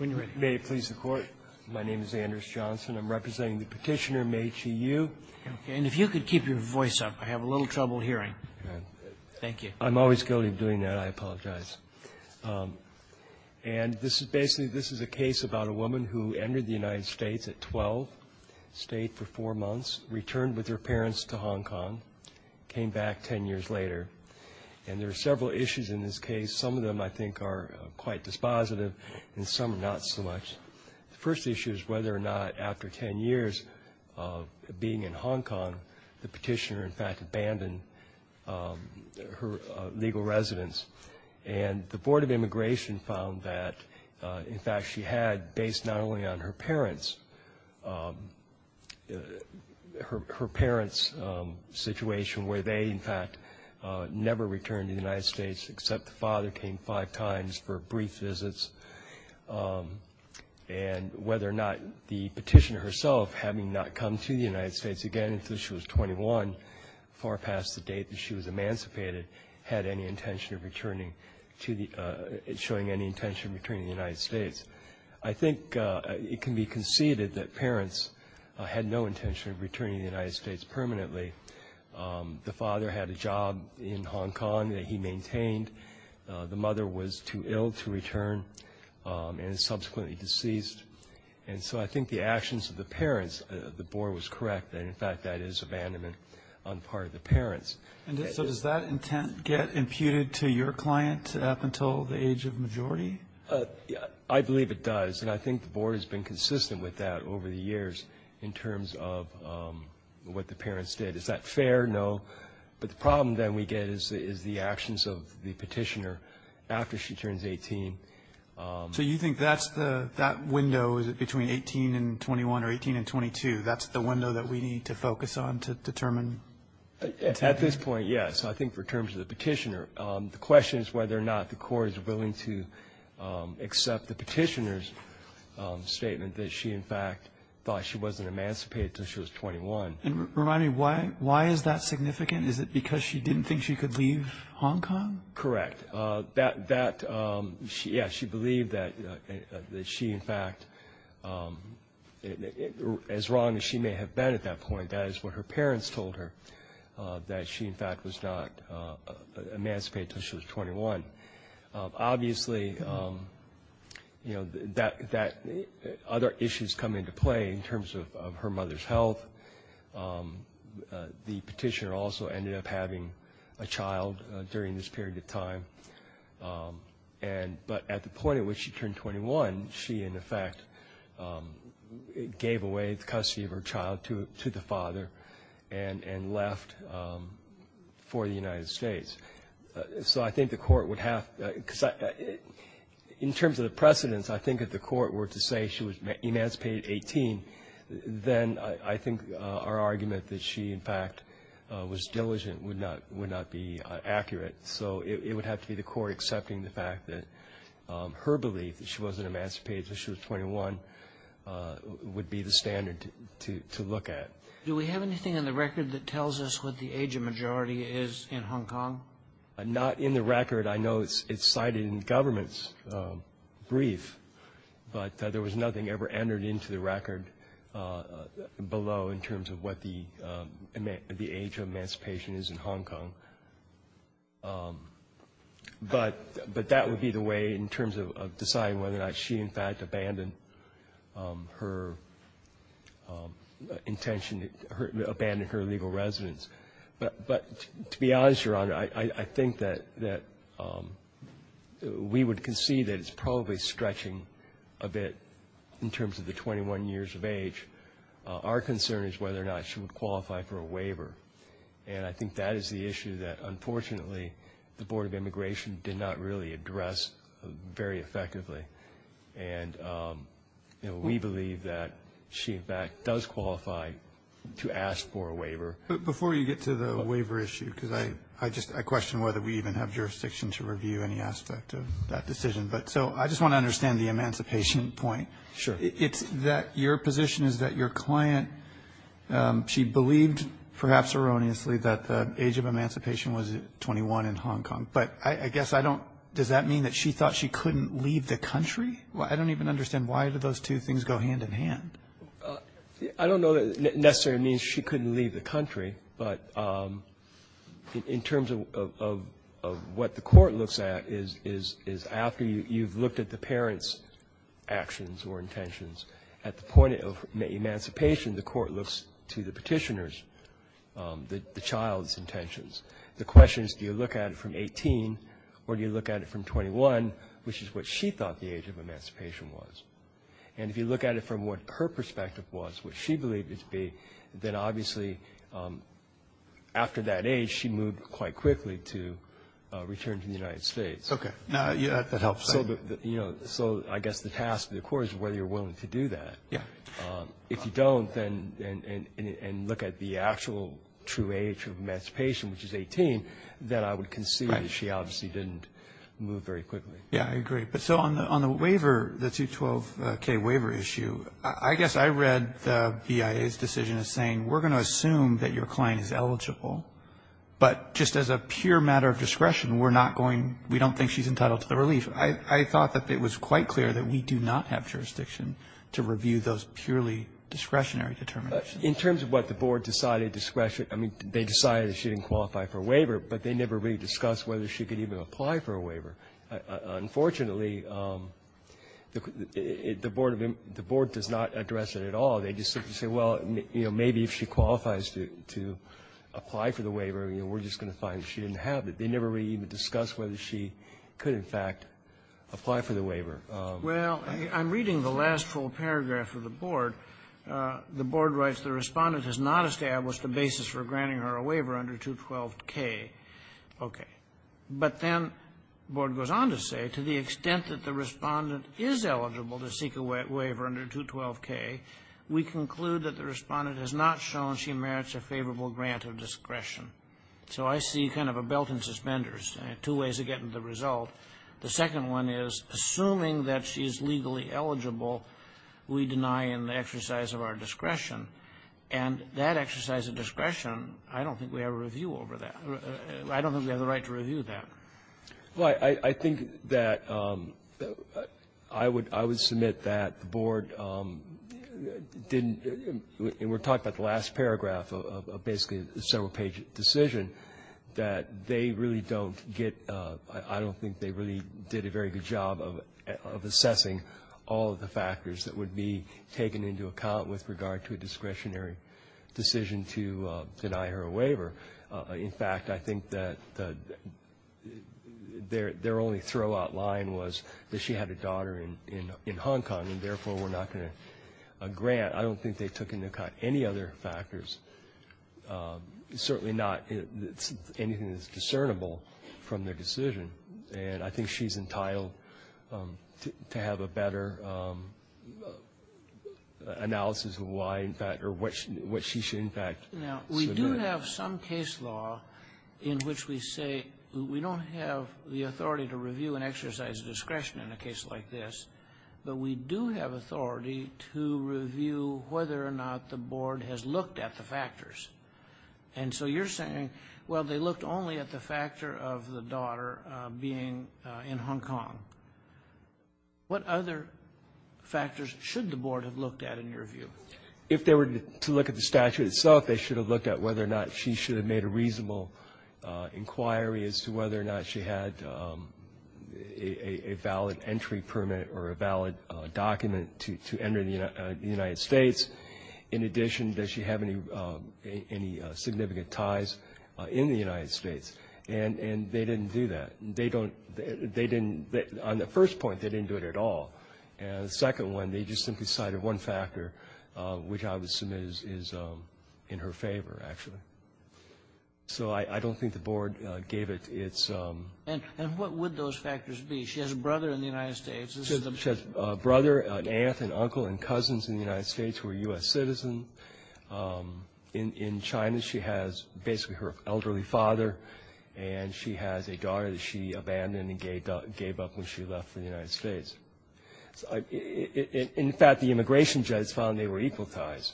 May it please the Court, my name is Anders Johnson. I'm representing the petitioner, Mei-Chi Yu. And if you could keep your voice up, I have a little trouble hearing. Thank you. I'm always guilty of doing that. I apologize. And this is basically, this is a case about a woman who entered the United States at 12, stayed for four months, returned with her parents to Hong Kong, came back ten years later. And there are several issues in this case. Some of them, I think, are quite dispositive, and some are not so much. The first issue is whether or not, after ten years of being in Hong Kong, the petitioner in fact abandoned her legal residence. And the Board of Immigration found that, in fact, she had, based not only on her parents, her parents' situation, where they, in fact, never returned to the United States except the father came five times for brief visits. And whether or not the petitioner herself, having not come to the United States again until she was 21, far past the date that she was emancipated, had any intention of returning to the, showing any intention of returning to the United States. I think it can be conceded that parents had no intention of returning to the United States permanently. The father had a job in Hong Kong that he maintained. The mother was too ill to return and subsequently deceased. And so I think the actions of the parents, the Board was correct that, in fact, that is abandonment on part of the parents. And so does that intent get imputed to your client up until the age of majority? I believe it does. And I think the Board has been consistent with that over the years in terms of what the parents did. Is that fair? No. But the problem, then, we get is the actions of the petitioner after she turns 18. So you think that's the, that window, is it between 18 and 21 or 18 and 22, that's the window that we need to focus on to determine? At this point, yes. I think for terms of the petitioner, the question is whether or not the court is willing to accept the petitioner's statement that she, in fact, thought she wasn't emancipated until she was 21. And remind me, why is that significant? Is it because she didn't think she could leave Hong Kong? Correct. That, yeah, she believed that she, in fact, as wrong as she may have been at that point, that is what her parents told her, that she, in fact, was not emancipated until she was 21. Obviously, you know, other issues come into play in terms of her mother's health. The petitioner also ended up having a child during this period of time. But at the point at which she turned 21, she, in effect, gave away the custody of her child to the father and left for the United States. So I think the court would have to, in terms of the precedence, I think if the court were to say she was emancipated at 18, then I think our argument that she, in fact, was diligent would not be accurate. So it would have to be the court accepting the fact that her belief that she wasn't emancipated until she was 21 would be the standard to look at. Do we have anything in the record that tells us what the age of majority is in Hong Kong? Not in the record. I know it's cited in the government's brief, but there was nothing ever entered into the record below in terms of what the age of emancipation is in Hong Kong. But that would be the way in terms of deciding whether or not she, in fact, abandoned her intention, abandoned her legal residence. But to be honest, Your Honor, I think that we would concede that it's probably stretching a bit in terms of the 21 years of age. Our concern is whether or not she would qualify for a waiver. And I think that is the issue that, unfortunately, the Board of Immigration did not really address very effectively. And we believe that she, in fact, does qualify to ask for a waiver. But before you get to the waiver issue, because I just question whether we even have jurisdiction to review any aspect of that decision. But so I just want to understand the emancipation point. Sure. It's that your position is that your client, she believed, perhaps erroneously, that the age of emancipation was 21 in Hong Kong. But I guess I don't – does that mean that she thought she couldn't leave the country? I don't even understand why do those two things go hand in hand. I don't know that it necessarily means she couldn't leave the country, but in terms of what the Court looks at is after you've looked at the parent's actions or intentions, at the point of emancipation, the Court looks to the Petitioner's, the child's, intentions. The question is do you look at it from 18 or do you look at it from 21, which is what she thought the age of emancipation was. And if you look at it from what her perspective was, what she believed it to be, then obviously after that age she moved quite quickly to return to the United States. Okay. That helps. So I guess the task of the Court is whether you're willing to do that. Yeah. If you don't and look at the actual true age of emancipation, which is 18, then I would concede that she obviously didn't move very quickly. Yeah, I agree. But so on the waiver, the 212k waiver issue, I guess I read the BIA's decision as saying we're going to assume that your client is eligible, but just as a pure matter of discretion, we're not going to, we don't think she's entitled to the relief. I thought that it was quite clear that we do not have jurisdiction to review those purely discretionary determinations. In terms of what the Board decided discretion, I mean, they decided she didn't qualify for a waiver, but they never really discussed whether she could even apply for a waiver. Unfortunately, the Board does not address it at all. They just simply say, well, you know, maybe if she qualifies to apply for the waiver, you know, we're just going to find that she didn't have it. They never really even discussed whether she could, in fact, apply for the waiver. Well, I'm reading the last full paragraph of the Board. The Board writes, the Respondent has not established a basis for granting her a waiver under 212k. Okay. But then the Board goes on to say, to the extent that the Respondent is eligible to seek a waiver under 212k, we conclude that the Respondent has not shown she merits a favorable grant of discretion. So I see kind of a belt and suspenders, two ways of getting the result. The second one is, assuming that she is legally eligible, we deny in the exercise of our discretion, and that exercise of discretion, I don't think we have a review over that. I don't think we have the right to review that. Well, I think that I would submit that the Board didn't, and we're talking about the last paragraph of basically a several-page decision, that they really don't get, I don't think they really did a very good job of assessing all of the factors that would be taken into account with regard to a discretionary decision to deny her a waiver. In fact, I think that their only throw-out line was that she had a daughter in Hong Kong, and therefore we're not going to grant. I don't think they took into account any other factors, certainly not anything that's discernible from their decision. And I think she's entitled to have a better analysis of why, in fact, or what she should, in fact, submit. Now, we do have some case law in which we say we don't have the authority to review an exercise of discretion in a case like this, but we do have authority to review whether or not the Board has looked at the factors. And so you're saying, well, they looked only at the factor of the daughter being in Hong Kong. What other factors should the Board have looked at, in your view? If they were to look at the statute itself, they should have looked at whether or not she should have made a reasonable inquiry as to whether or not she had a valid entry permit or a valid document to enter the United States. In addition, does she have any significant ties in the United States? And they didn't do that. They don't they didn't, on the first point, they didn't do it at all. And the second one, they just simply cited one factor, which I would assume is in her favor, actually. So I don't think the Board gave it its. And what would those factors be? She has a brother in the United States. She has a brother, an aunt, an uncle, and cousins in the United States who are U.S. citizens. In China, she has basically her elderly father, and she has a daughter that she abandoned and gave up when she left for the United States. In fact, the immigration judge found they were equal ties,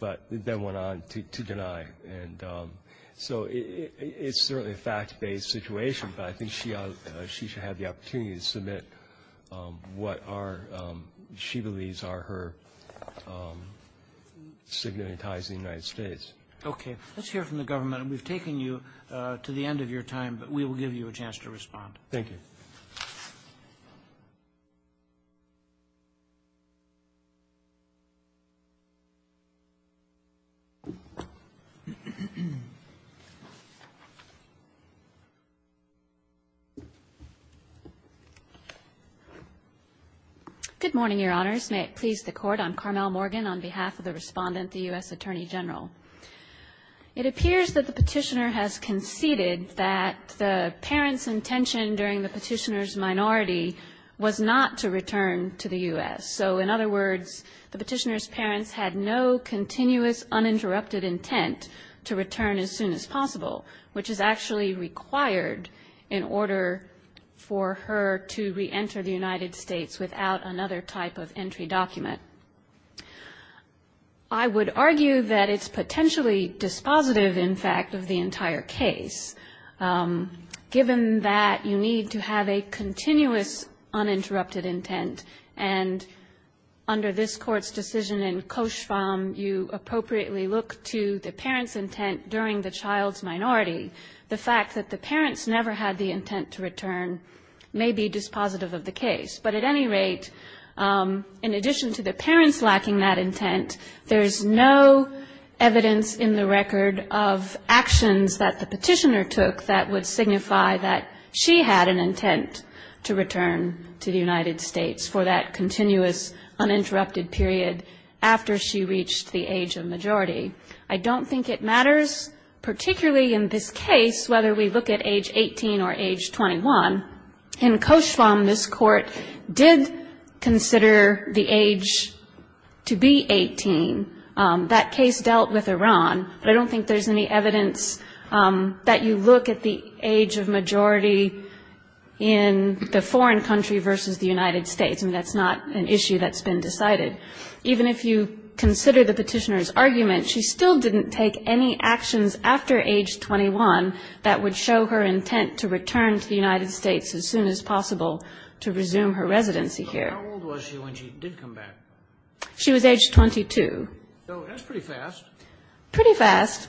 but then went on to deny. And so it's certainly a fact-based situation, but I think she should have the opportunity to submit what she believes are her significant ties in the United States. Okay. Let's hear from the government. We've taken you to the end of your time, but we will give you a chance to respond. Thank you. Good morning, Your Honors. May it please the Court. I'm Carmel Morgan on behalf of the Respondent, the U.S. Attorney General. It appears that the Petitioner has conceded that the parent's intention during the Petitioner's minority was not to return to the U.S. So, in other words, the Petitioner's parents had no continuous uninterrupted intent to reenter the United States without another type of entry document. I would argue that it's potentially dispositive, in fact, of the entire case, given that you need to have a continuous uninterrupted intent. And under this Court's decision in Cauchemar, you appropriately look to the parent's intent during the child's minority. The fact that the parents never had the intent to return may be dispositive of the case. But at any rate, in addition to the parents lacking that intent, there is no evidence in the record of actions that the Petitioner took that would signify that she had an intent to return to the United States for that continuous uninterrupted period after she reached the age of majority. I don't think it matters, particularly in this case, whether we look at age 18 or age 21. In Cauchemar, this Court did consider the age to be 18. That case dealt with Iran. But I don't think there's any evidence that you look at the age of majority in the foreign country versus the United States. I mean, that's not an issue that's been decided. Even if you consider the Petitioner's argument, she still didn't take any actions after age 21 that would show her intent to return to the United States as soon as possible to resume her residency here. Kennedy. But how old was she when she did come back? She was age 22. So that's pretty fast. Pretty fast.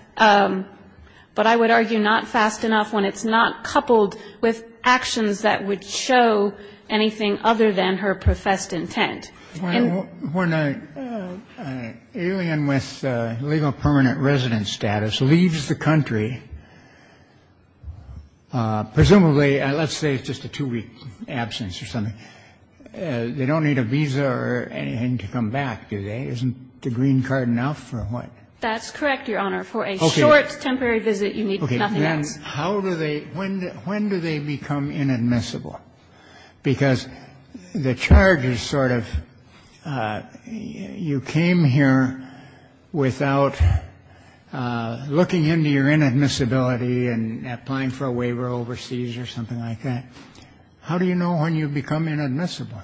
But I would argue not fast enough when it's not coupled with actions that would show anything other than her professed intent. When an alien with legal permanent residence status leaves the country, presumably let's say it's just a two-week absence or something, they don't need a visa or anything to come back, do they? Isn't the green card enough or what? That's correct, Your Honor. For a short, temporary visit, you need nothing else. Okay. Then how do they – when do they become inadmissible? Because the charge is sort of you came here without looking into your inadmissibility and applying for a waiver overseas or something like that. How do you know when you become inadmissible?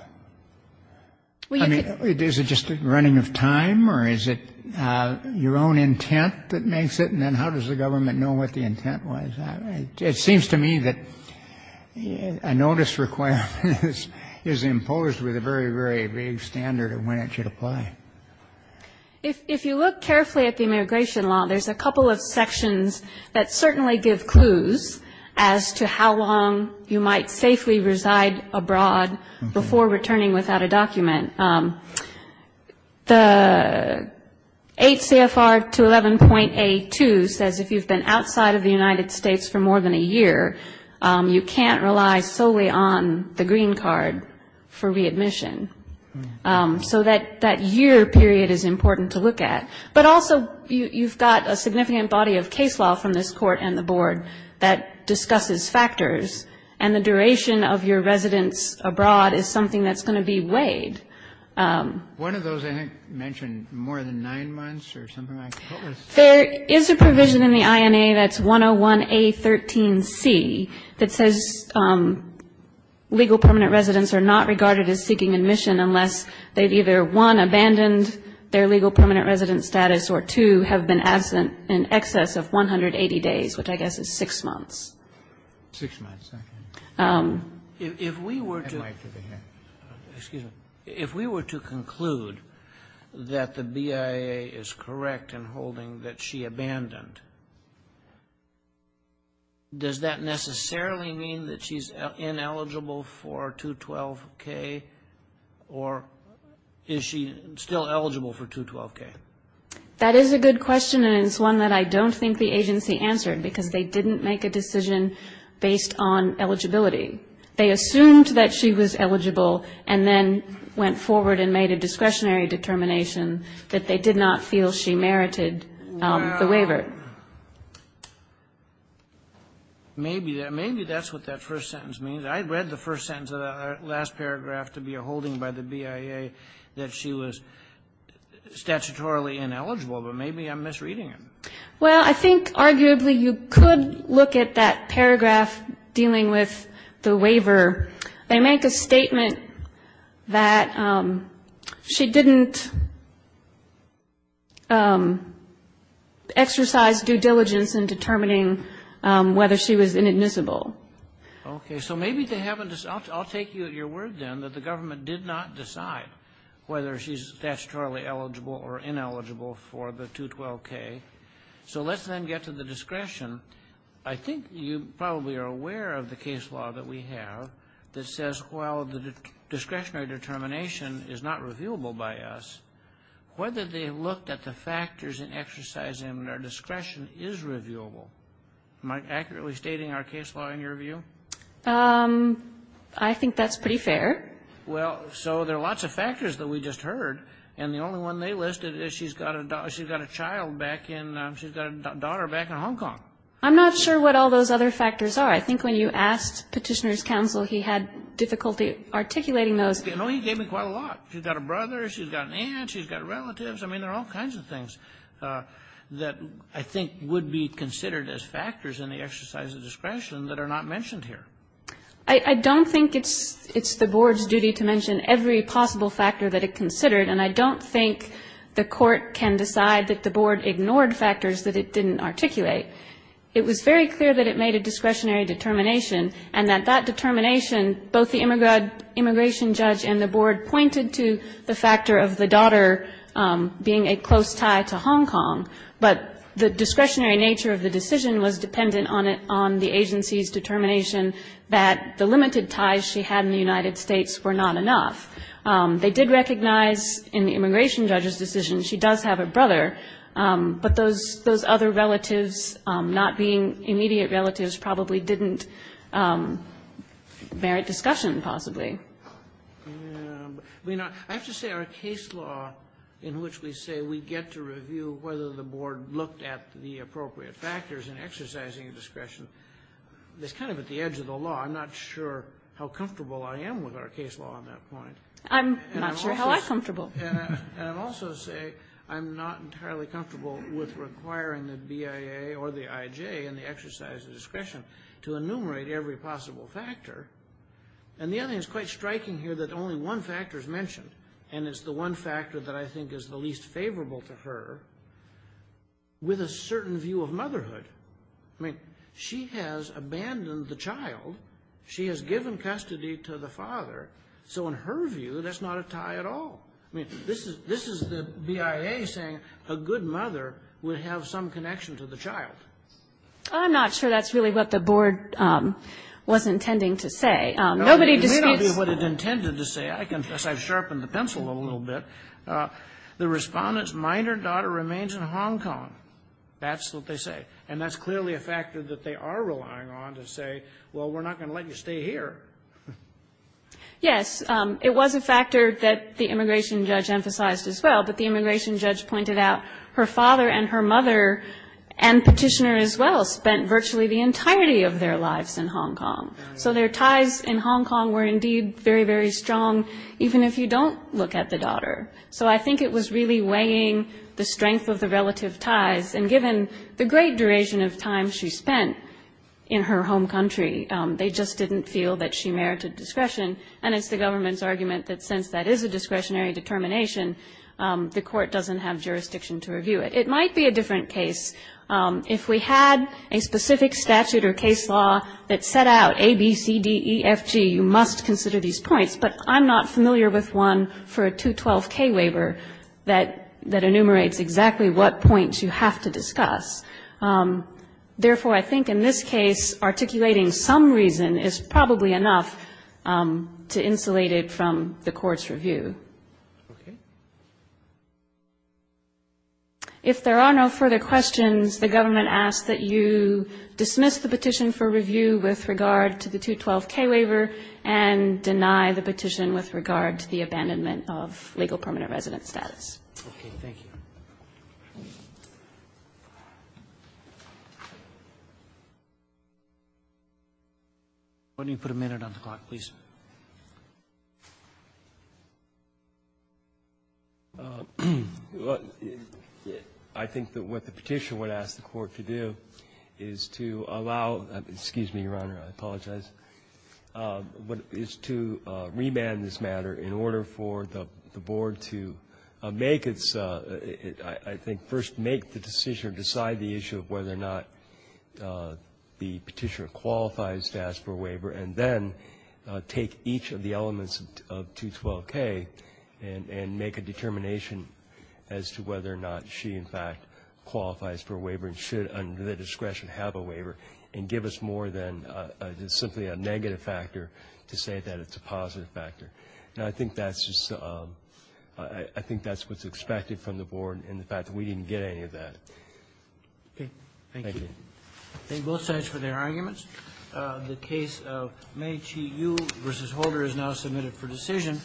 I mean, is it just a running of time or is it your own intent that makes it? And then how does the government know what the intent was? It seems to me that a notice requirement is imposed with a very, very vague standard of when it should apply. If you look carefully at the immigration law, there's a couple of sections that certainly give clues as to how long you might safely reside abroad before returning without a document. The 8 CFR 211.A2 says if you've been outside of the United States for more than a year, you can't rely solely on the green card for readmission. So that year period is important to look at. But also, you've got a significant body of case law from this Court and the Board that discusses factors, and the duration of your residence abroad is something that's going to be weighed. One of those, I think, mentioned more than nine months or something like that. There is a provision in the INA that's 101.A13.C that says legal permanent residents are not regarded as seeking admission unless they've either, one, abandoned their legal permanent resident status, or two, have been absent in excess of 180 days, which I guess is six months. If we were to conclude that the BIA is correct in holding that she abandoned, does that necessarily mean that she's ineligible for 212.K, or is she still eligible for 212.K? That is a good question, and it's one that I don't think the agency answered, because they didn't make a decision based on eligibility. They assumed that she was eligible, and then went forward and made a discretionary determination that they did not feel she merited the waiver. Well, maybe that's what that first sentence means. I read the first sentence of that last paragraph to be a holding by the BIA that she was statutorily ineligible, but maybe I'm misreading it. Well, I think arguably you could look at that paragraph dealing with the waiver. They make a statement that she didn't exercise due diligence in determining whether she was inadmissible. Okay. So maybe they haven't decided. I'll take your word, then, that the government did not decide whether she's statutorily eligible or ineligible for the 212K. So let's then get to the discretion. I think you probably are aware of the case law that we have that says, while the discretionary determination is not reviewable by us, whether they looked at the factors in exercising our discretion is reviewable. Am I accurately stating our case law in your view? I think that's pretty fair. Well, so there are lots of factors that we just heard, and the only one they listed is she's got a child back in, she's got a daughter back in Hong Kong. I'm not sure what all those other factors are. I think when you asked Petitioner's counsel, he had difficulty articulating those. No, he gave me quite a lot. She's got a brother, she's got an aunt, she's got relatives. I mean, there are all kinds of things that I think would be considered as factors in the exercise of discretion that are not mentioned here. I don't think it's the Board's duty to mention every possible factor that it considered, and I don't think the Court can decide that the Board ignored factors that it didn't articulate. It was very clear that it made a discretionary determination and that that determination, both the immigration judge and the Board, pointed to the factor of the daughter being a close tie to Hong Kong. But the discretionary nature of the decision was dependent on the agency's determination that the limited ties she had in the United States were not enough. They did recognize in the immigration judge's decision she does have a brother, but those other relatives not being immediate relatives probably didn't merit discussion, possibly. I mean, I have to say our case law in which we say we get to review whether the Board looked at the appropriate factors in exercising discretion is kind of at the edge of the law. I'm not sure how comfortable I am with our case law on that point. I'm not sure how I'm comfortable. And I'll also say I'm not entirely comfortable with requiring the BIA or the IJ in the exercise of discretion to enumerate every possible factor. And the other thing that's quite striking here is that only one factor is mentioned, and it's the one factor that I think is the least favorable to her, with a certain view of motherhood. I mean, she has abandoned the child. She has given custody to the father. So in her view, that's not a tie at all. I mean, this is the BIA saying a good mother would have some connection to the child. I'm not sure that's really what the Board was intending to say. Nobody disputes. It may not be what it intended to say. I confess I've sharpened the pencil a little bit. The Respondent's minor daughter remains in Hong Kong. That's what they say. And that's clearly a factor that they are relying on to say, well, we're not going to let you stay here. Yes. It was a factor that the immigration judge emphasized as well. But the immigration judge pointed out her father and her mother and Petitioner as well spent virtually the entirety of their lives in Hong Kong. So their ties in Hong Kong were indeed very, very strong, even if you don't look at the daughter. So I think it was really weighing the strength of the relative ties. And given the great duration of time she spent in her home country, they just didn't feel that she merited discretion. And it's the government's argument that since that is a discretionary determination, the court doesn't have jurisdiction to review it. It might be a different case. If we had a specific statute or case law that set out A, B, C, D, E, F, G, you must consider these points. But I'm not familiar with one for a 212K waiver that enumerates exactly what points you have to discuss. Therefore, I think in this case, articulating some reason is probably enough to insulate it from the court's review. If there are no further questions, the government asks that you dismiss the petition for review with regard to the 212K waiver and deny the petition with regard to the abandonment of legal permanent resident status. Thank you. Roberts. Why don't you put a minute on the clock, please? I think that what the petition would ask the Court to do is to allow the excuse me, Your Honor, I apologize, is to remand this matter in order for the board to make I think first make the decision or decide the issue of whether or not the petitioner qualifies to ask for a waiver, and then take each of the elements of 212K and make a determination as to whether or not she, in fact, qualifies for a waiver and should, under the discretion, have a waiver, and give us more than simply a negative factor to say that it's a positive factor. Now, I think that's just the – I think that's what's expected from the board in the fact that we didn't get any of that. Thank you. Thank you. Thank you. Thank you both sides for their arguments. The case of Meechi Yu v. Holder is now submitted for decision.